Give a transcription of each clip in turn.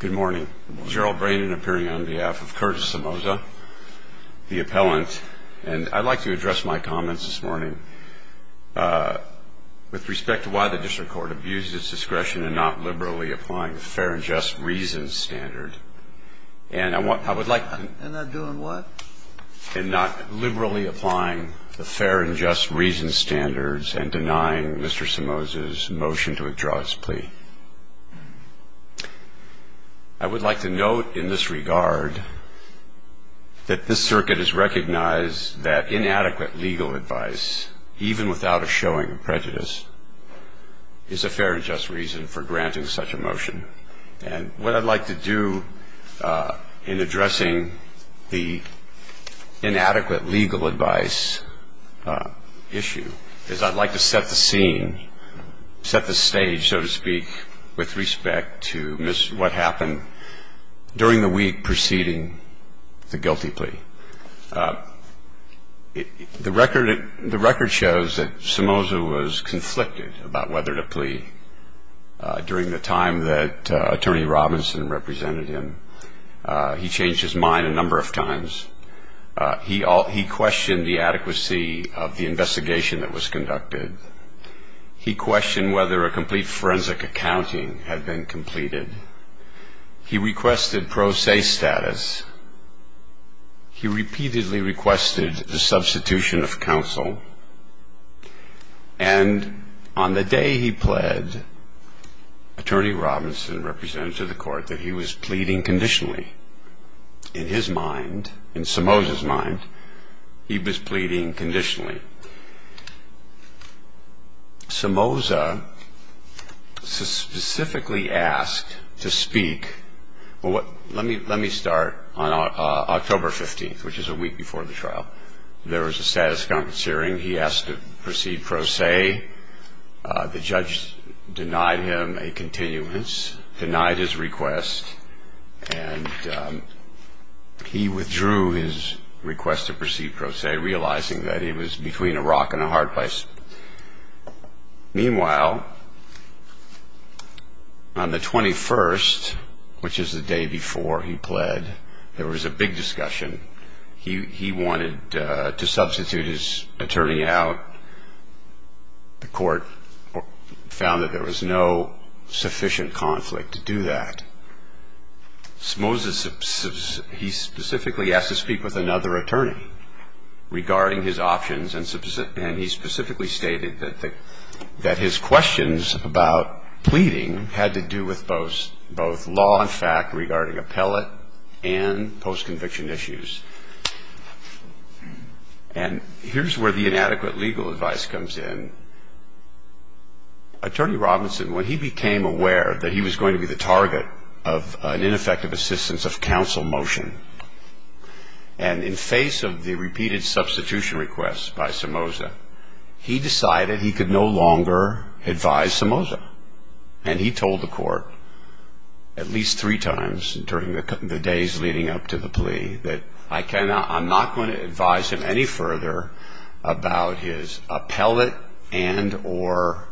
Good morning. Gerald Brandon appearing on behalf of Curtis Somoza, the appellant. And I'd like to address my comments this morning with respect to why the district court abused its discretion in not liberally applying the fair and just reasons standard. And I would like to... In not doing what? In not liberally applying the fair and just reasons standards and denying Mr. Somoza's motion to withdraw his plea. I would like to note in this regard that this circuit has recognized that inadequate legal advice, even without a showing of prejudice, is a fair and just reason for granting such a motion. And what I'd like to do in addressing the inadequate legal advice issue is I'd like to set the scene, set the stage, so to speak, with respect to what happened during the week preceding the guilty plea. The record shows that Somoza was conflicted about whether to plea during the time that Attorney Robinson represented him. He changed his mind a number of times. He questioned the adequacy of the investigation that was conducted. He questioned whether a complete forensic accounting had been completed. He requested pro se status. He repeatedly requested the substitution of counsel. And on the day he pled, Attorney Robinson represented him to the court that he was pleading conditionally. In his mind, in Somoza's mind, he was pleading conditionally. Somoza specifically asked to speak. Well, let me start on October 15th, which is a week before the trial. There was a status of compensating. He asked to proceed pro se. The judge denied him a continuance, denied his request, and he withdrew his request to proceed pro se, realizing that he was between a rock and a hard place. Meanwhile, on the 21st, which is the day before he pled, there was a big discussion. He wanted to substitute his attorney out. The court found that there was no sufficient conflict to do that. Somoza, he specifically asked to speak with another attorney regarding his options, and he specifically stated that his questions about pleading had to do with both law and fact regarding appellate and post-conviction issues. And here's where the inadequate legal advice comes in. Attorney Robinson, when he became aware that he was going to be the target of an ineffective assistance of counsel motion, and in face of the repeated substitution requests by Somoza, he decided he could no longer advise Somoza. And he told the court at least three times during the days leading up to the plea that, I cannot, I'm not going to advise him any further about his appellate and or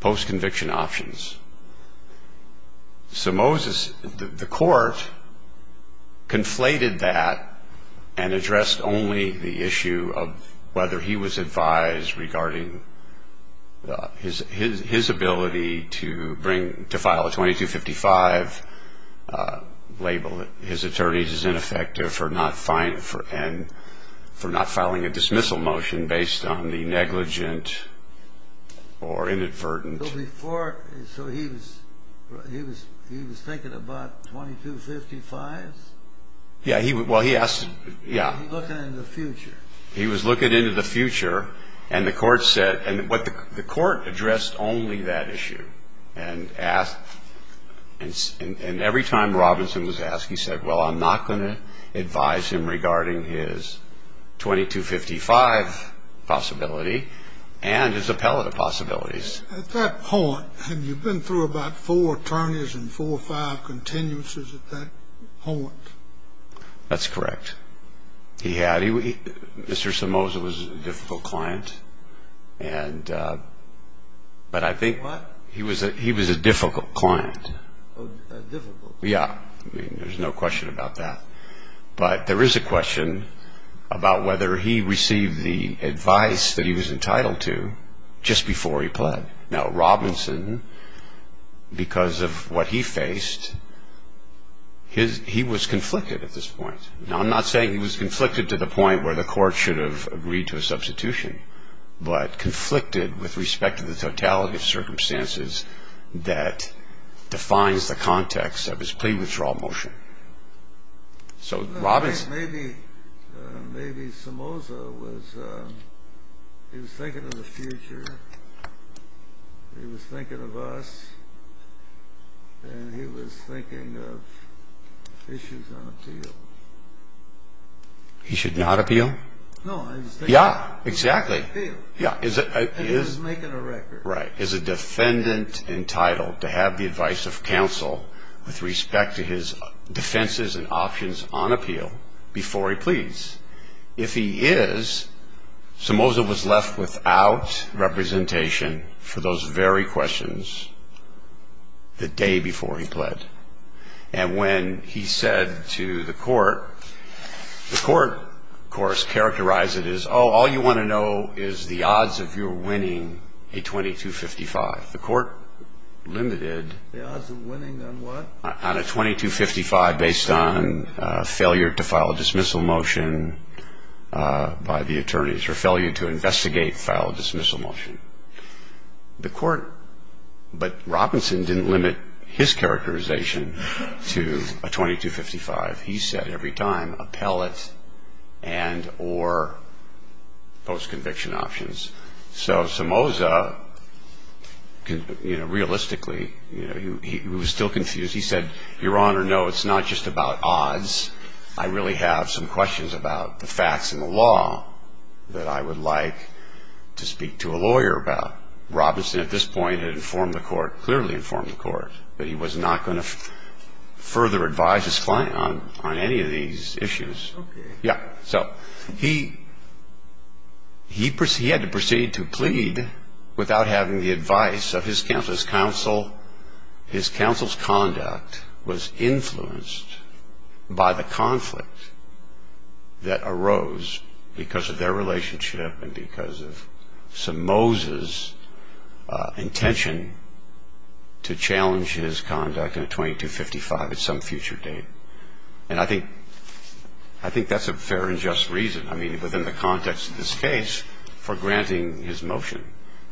post-conviction options. Somoza's, the court, conflated that and addressed only the issue of whether he was advised regarding his ability to bring, to file a 2255 label that his attorney is ineffective for not filing a dismissal motion based on the negligent or inadvertent. So before, so he was thinking about 2255s? Yeah, well he asked, yeah. He was looking into the future. And the court said, and the court addressed only that issue and asked, and every time Robinson was asked, he said, well, I'm not going to advise him regarding his 2255 possibility and his appellate possibilities. At that point, had you been through about four attorneys and four or five continuances at that point? That's correct. He had, Mr. Somoza was a difficult client and, but I think he was a difficult client. Difficult? Yeah, I mean, there's no question about that. But there is a question about whether he received the advice that he was entitled to just before he pled. Now Robinson, because of what he faced, he was conflicted at this point. Now I'm not saying he was conflicted to the point where the court should have agreed to a substitution, but conflicted with respect to the totality of circumstances that defines the context of his plea withdrawal motion. So maybe Somoza was, he was thinking of the future. He was thinking of us. And he was thinking of issues on appeal. He should not appeal? No. Yeah, exactly. He should not appeal. And he was making a record. Right. Is a defendant entitled to have the advice of counsel with respect to his defenses and options on appeal before he pleads? If he is, Somoza was left without representation for those very questions the day before he pled. And when he said to the court, the court, of course, characterized it as, oh, all you want to know is the odds of your winning a 2255. The court limited. The odds of winning on what? On a 2255 based on failure to file a dismissal motion by the attorneys or failure to investigate, file a dismissal motion. The court, but Robinson didn't limit his characterization to a 2255. He said every time, appellate and or post-conviction options. So Somoza, you know, realistically, you know, he was still confused. He said, Your Honor, no, it's not just about odds. I really have some questions about the facts and the law that I would like to speak to a lawyer about. Robinson at this point had informed the court, clearly informed the court, that he was not going to further advise his client on any of these issues. Okay. Yeah. So he had to proceed to plead without having the advice of his counsel. His counsel's conduct was influenced by the conflict that arose because of their relationship and because of Somoza's intention to challenge his conduct in a 2255 at some future date. And I think that's a fair and just reason, I mean, within the context of this case, for granting his motion.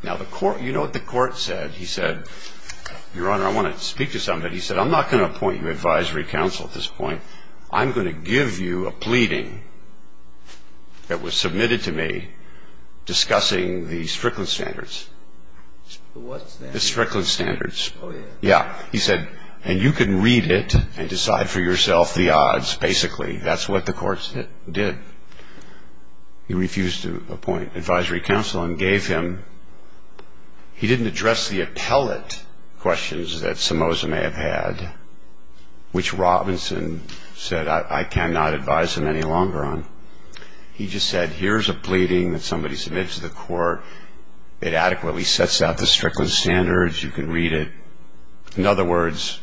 Now, you know what the court said? He said, Your Honor, I want to speak to somebody. He said, I'm not going to appoint you advisory counsel at this point. I'm going to give you a pleading that was submitted to me discussing the Strickland standards. The what standards? The Strickland standards. Oh, yeah. Yeah. He said, and you can read it and decide for yourself the odds, basically. That's what the court did. He refused to appoint advisory counsel and gave him. He didn't address the appellate questions that Somoza may have had, which Robinson said, I cannot advise him any longer on. He just said, Here's a pleading that somebody submitted to the court. It adequately sets out the Strickland standards. You can read it. In other words,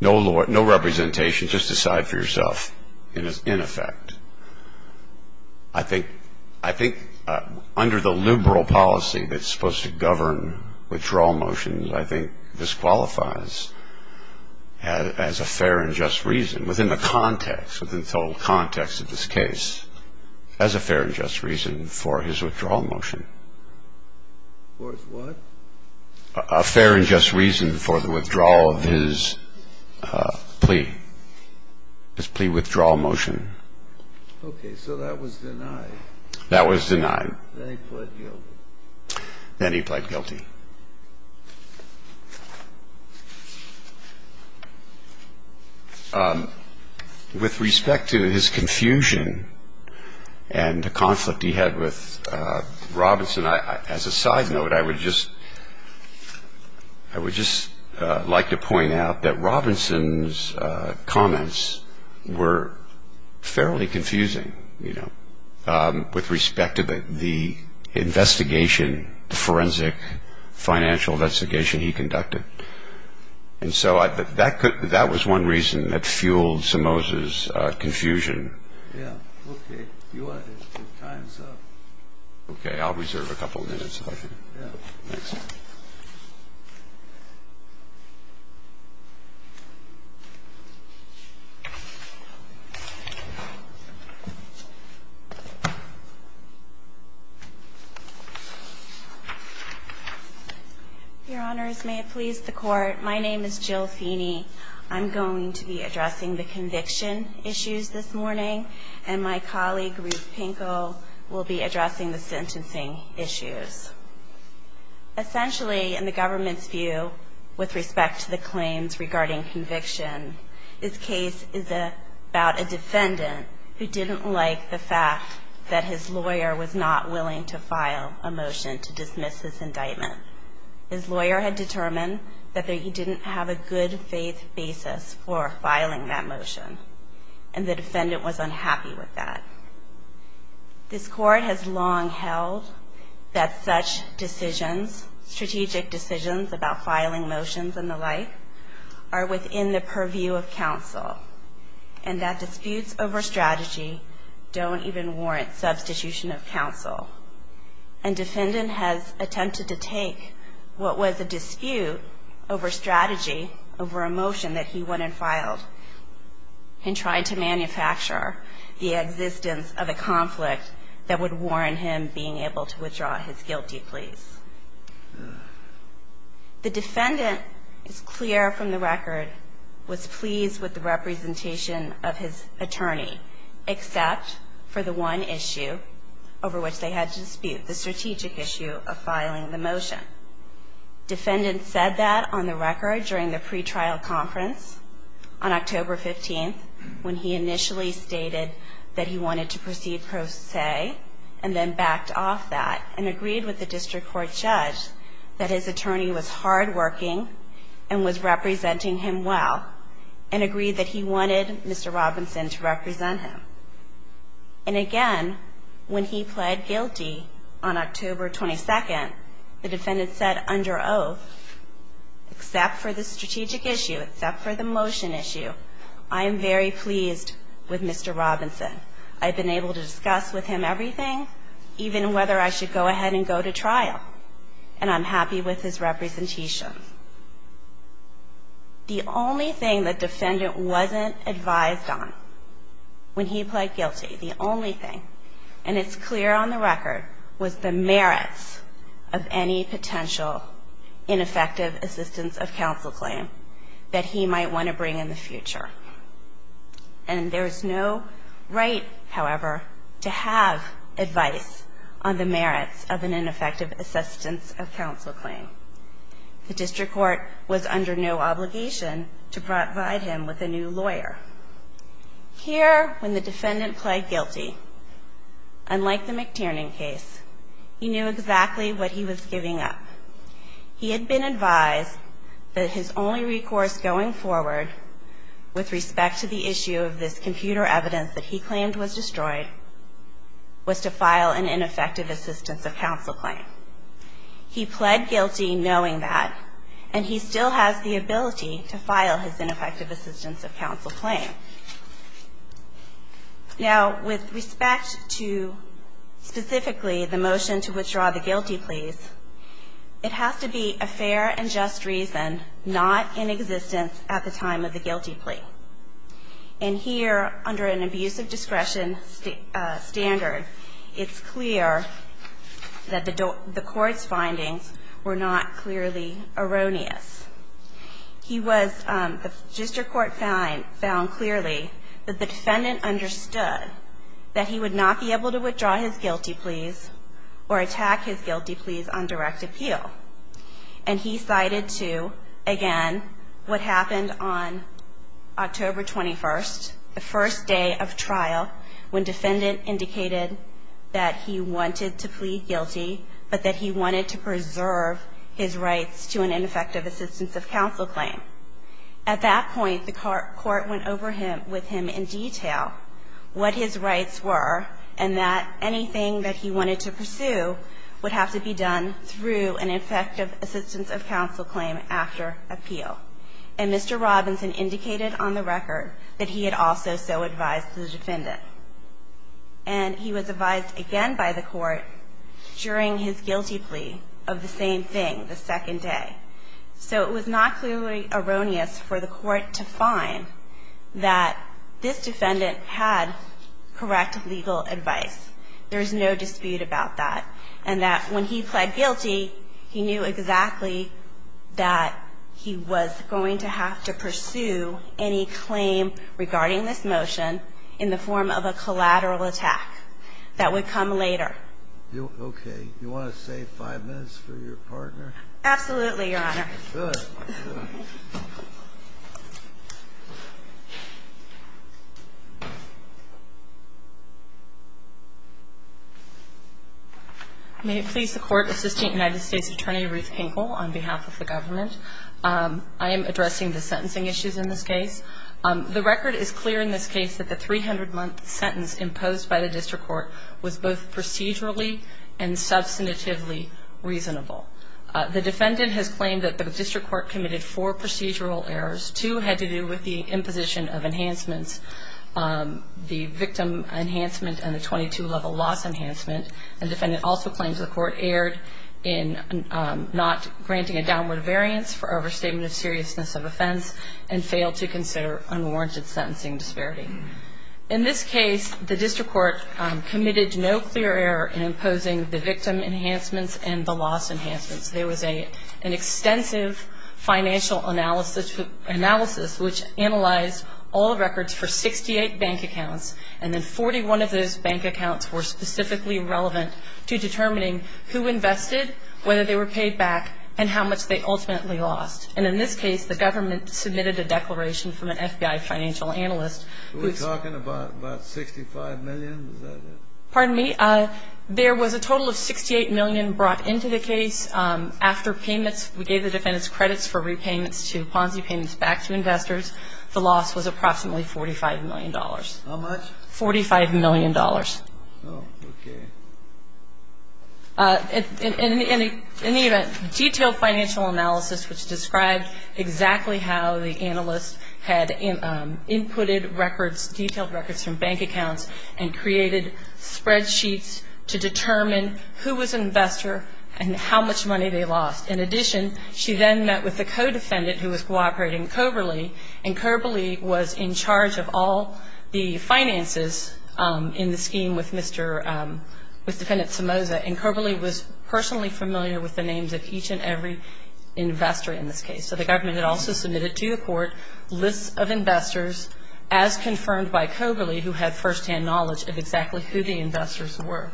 no representation, just decide for yourself, in effect. I think under the liberal policy that's supposed to govern withdrawal motions, I think this qualifies as a fair and just reason, within the context, within the total context of this case, as a fair and just reason for his withdrawal motion. For his what? A fair and just reason for the withdrawal of his plea. His plea withdrawal motion. Okay. So that was denied. That was denied. Then he pled guilty. Then he pled guilty. With respect to his confusion and the conflict he had with Robinson, as a side note, I would just like to point out that Robinson's comments were fairly confusing, you know, with respect to the investigation, the forensic financial investigation he conducted. And so that was one reason that fueled Somoza's confusion. I'm going to stop. Yes. Okay. You want to take your time, sir. Okay. I'll reserve a couple minutes. Yes. Thanks. Your Honors, may it please the Court, my name is Jill Feeney. I'm going to be addressing the conviction issues this morning, and my colleague Ruth Essentially, in the government's view, with respect to the claims regarding conviction, this case is about a defendant who didn't like the fact that his lawyer was not willing to file a motion to dismiss his indictment. His lawyer had determined that he didn't have a good faith basis for filing that motion, and the defendant was unhappy with that. This Court has long held that such decisions, strategic decisions about filing motions and the like, are within the purview of counsel, and that disputes over strategy don't even warrant substitution of counsel. And defendant has attempted to take what was a dispute over strategy, over a motion that he went and filed, and tried to manufacture the existence of a conflict that would warrant him being able to withdraw his guilty pleas. The defendant, it's clear from the record, was pleased with the representation of his attorney, except for the one issue over which they had to dispute, the strategic issue of filing the motion. Defendant said that on the record during the pretrial conference on October 15th, when he initially stated that he wanted to proceed pro se, and then backed off that, and agreed with the district court judge that his attorney was hardworking and was representing him well, and agreed that he wanted Mr. Robinson to represent him. And again, when he pled guilty on October 22nd, the defendant said under oath, except for the strategic issue, except for the motion issue, I am very pleased with Mr. Robinson. I've been able to discuss with him everything, even whether I should go ahead and go to trial, and I'm happy with his representation. The only thing the defendant wasn't advised on when he pled guilty, the only thing, and it's clear on the record, was the merits of any potential ineffective assistance of counsel claim that he might want to bring in the future. And there's no right, however, to have advice on the merits of an ineffective assistance of counsel claim. The district court was under no obligation to provide him with a new lawyer. Here, when the defendant pled guilty, unlike the McTiernan case, he knew exactly what he was giving up. He had been advised that his only recourse going forward with respect to the issue of this computer evidence that he claimed was destroyed was to file an ineffective assistance of counsel claim. He pled guilty knowing that, and he still has the ability to file his ineffective assistance of counsel claim. Now, with respect to specifically the motion to withdraw the guilty pleas, it has to be a fair and just reason, not in existence at the time of the guilty plea. And here, under an abuse of discretion standard, it's clear that the court's findings were not clearly erroneous. He was, the district court found clearly that the defendant understood that he would not be able to withdraw his guilty pleas or attack his guilty pleas on direct appeal. And he cited to, again, what happened on October 21st, the first day of trial, when defendant indicated that he wanted to plead guilty, but that he wanted to preserve his rights to an ineffective assistance of counsel claim. At that point, the court went over with him in detail what his rights were, and that anything that he wanted to pursue would have to be done through an effective assistance of counsel claim after appeal. And Mr. Robinson indicated on the record that he had also so advised the defendant. And he was advised again by the court during his guilty plea of the same thing the second day. So it was not clearly erroneous for the court to find that this defendant had correct legal advice. There is no dispute about that. And that when he pled guilty, he knew exactly that he was going to have to pursue any claim regarding this motion in the form of a collateral attack that would come later. Okay. You want to save five minutes for your partner? Absolutely, Your Honor. Good. May it please the Court, Assistant United States Attorney Ruth Hinkle on behalf of the government. I am addressing the sentencing issues in this case. The record is clear in this case that the 300-month sentence imposed by the district court was both procedurally and substantively reasonable. The defendant has claimed that the district court committed four procedural errors. Two had to do with the imposition of enhancements, the victim enhancement and the 22-level loss enhancement. And the defendant also claims the court erred in not granting a downward variance for overstatement of seriousness of offense and failed to consider unwarranted sentencing disparity. In this case, the district court committed no clear error in imposing the victim enhancements and the loss enhancements. There was an extensive financial analysis which analyzed all records for 68 bank accounts, and then 41 of those bank accounts were specifically relevant to determining who invested, whether they were paid back, and how much they ultimately lost. And in this case, the government submitted a declaration from an FBI financial analyst. Are we talking about 65 million? Pardon me? There was a total of 68 million brought into the case. After payments, we gave the defendants credits for repayments to Ponzi payments back to investors. The loss was approximately $45 million. How much? $45 million. Oh, okay. In the event, detailed financial analysis which described exactly how the analyst had inputted records, detailed records from bank accounts, and created spreadsheets to determine who was an investor and how much money they lost. In addition, she then met with the co-defendant who was cooperating, Coberley, and Coberley was in charge of all the finances in the scheme with Mr. — with Defendant Somoza. And Coberley was personally familiar with the names of each and every investor in this case. So the government had also submitted to the court lists of investors as confirmed by Coberley, who had firsthand knowledge of exactly who the investors were.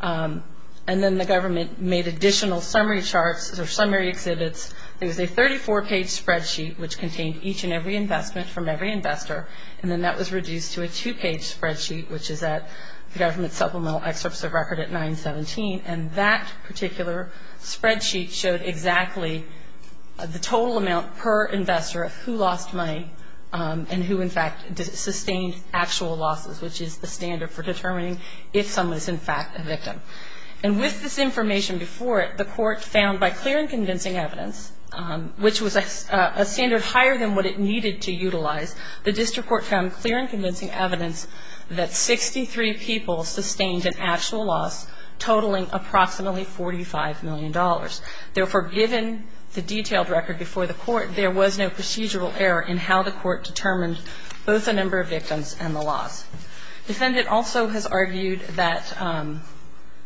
And then the government made additional summary charts or summary exhibits. It was a 34-page spreadsheet which contained each and every investment from every investor, and then that was reduced to a two-page spreadsheet, which is at the government supplemental excerpts of record at 917. And that particular spreadsheet showed exactly the total amount per investor of who lost money and who in fact sustained actual losses, which is the standard for determining if someone is in fact a victim. And with this information before it, the court found by clear and convincing evidence, which was a standard higher than what it needed to utilize, the district court found clear and convincing evidence that 63 people sustained an actual loss, totaling approximately $45 million. Therefore, given the detailed record before the court, there was no procedural error in how the court determined both the number of victims and the loss. Defendant also has argued that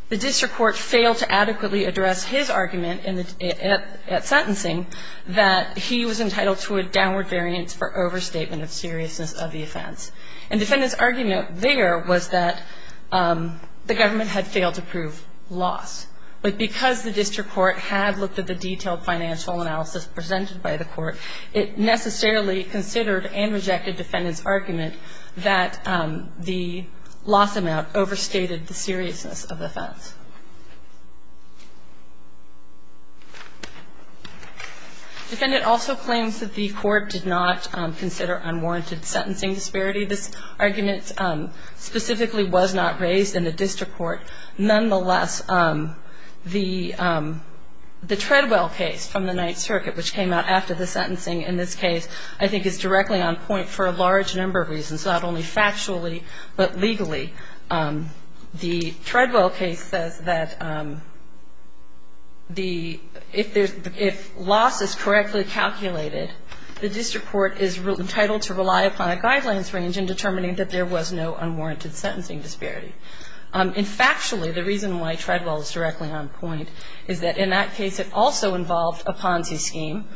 the district court failed to adequately address his argument at sentencing that he was entitled to a downward variance for overstatement of seriousness of the offense. And defendant's argument there was that the government had failed to prove loss. But because the district court had looked at the detailed financial analysis presented by the court, it necessarily considered and rejected defendant's argument that the loss amount overstated the seriousness of the offense. Defendant also claims that the court did not consider unwarranted sentencing disparity. This argument specifically was not raised in the district court. Nonetheless, the Treadwell case from the Ninth Circuit, which came out after the sentencing in this case, I think is directly on point for a large number of reasons, not only factually but legally. The Treadwell case says that if loss is correctly calculated, the district court is entitled to rely upon a guidelines range in determining that there was no unwarranted sentencing disparity. And factually, the reason why Treadwell is directly on point is that in that case, it also involved a Ponzi scheme,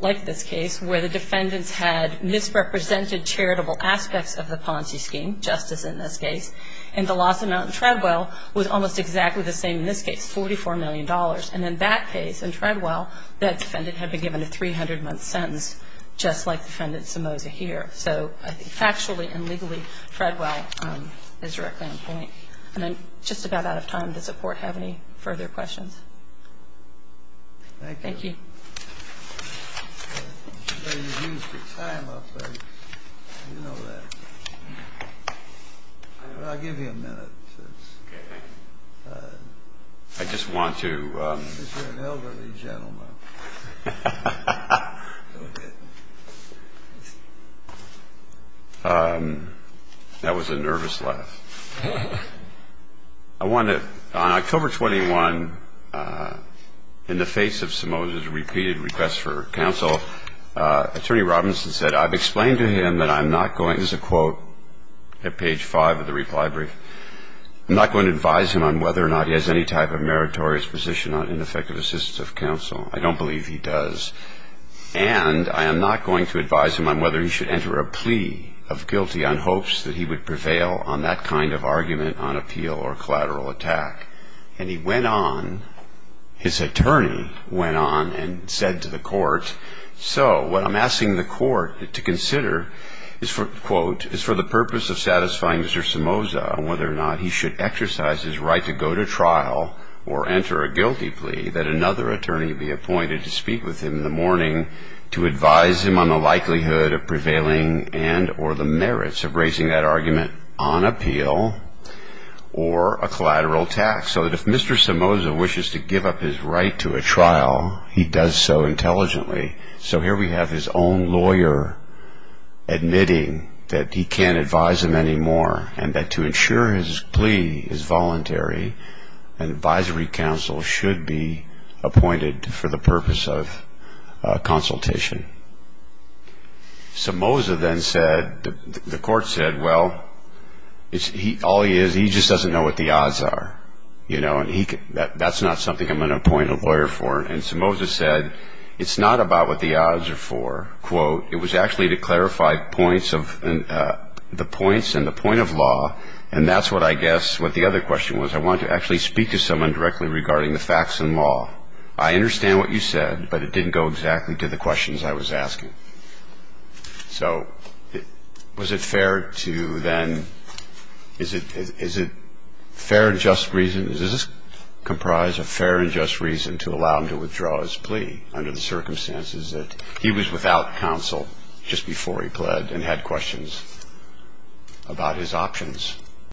like this case, where the defendants had misrepresented charitable aspects of the Ponzi scheme, justice in this case. And the loss amount in Treadwell was almost exactly the same in this case, $44 million. And in that case, in Treadwell, that defendant had been given a 300-month sentence, just like defendant Somoza here. So I think factually and legally, Treadwell is directly on point. And I'm just about out of time. Does the court have any further questions? Thank you. Thank you. I just want to. That was a nervous laugh. I want to. On October 21, in the face of Somoza's repeated requests for counsel, Attorney Robinson said, I've explained to him that I'm not going. This is a quote at page 5 of the reply brief. I'm not going to advise him on whether or not he has any type of meritorious position on ineffective assistance of counsel. I don't believe he does. And I am not going to advise him on whether he should enter a plea of guilty on hopes that he would prevail on that kind of argument on appeal or collateral attack. And he went on, his attorney went on and said to the court, so what I'm asking the court to consider is for the purpose of satisfying Mr. Somoza on whether or not he should exercise his right to go to trial or enter a guilty plea that another attorney be appointed to speak with him in the morning to advise him on the likelihood of prevailing and or the merits of raising that argument on appeal or a collateral attack. So that if Mr. Somoza wishes to give up his right to a trial, he does so intelligently. So here we have his own lawyer admitting that he can't advise him anymore and that to ensure his plea is voluntary, an advisory counsel should be appointed for the purpose of consultation. Somoza then said, the court said, well, all he is, he just doesn't know what the odds are. That's not something I'm going to appoint a lawyer for. And Somoza said, it's not about what the odds are for. It was actually to clarify the points and the point of law. And that's what I guess what the other question was. I want to actually speak to someone directly regarding the facts and law. I understand what you said, but it didn't go exactly to the questions I was asking. So was it fair to then, is it fair and just reason, is this comprised of fair and just reason to allow him to withdraw his plea under the circumstances that he was without counsel just before he pled and had questions about his options?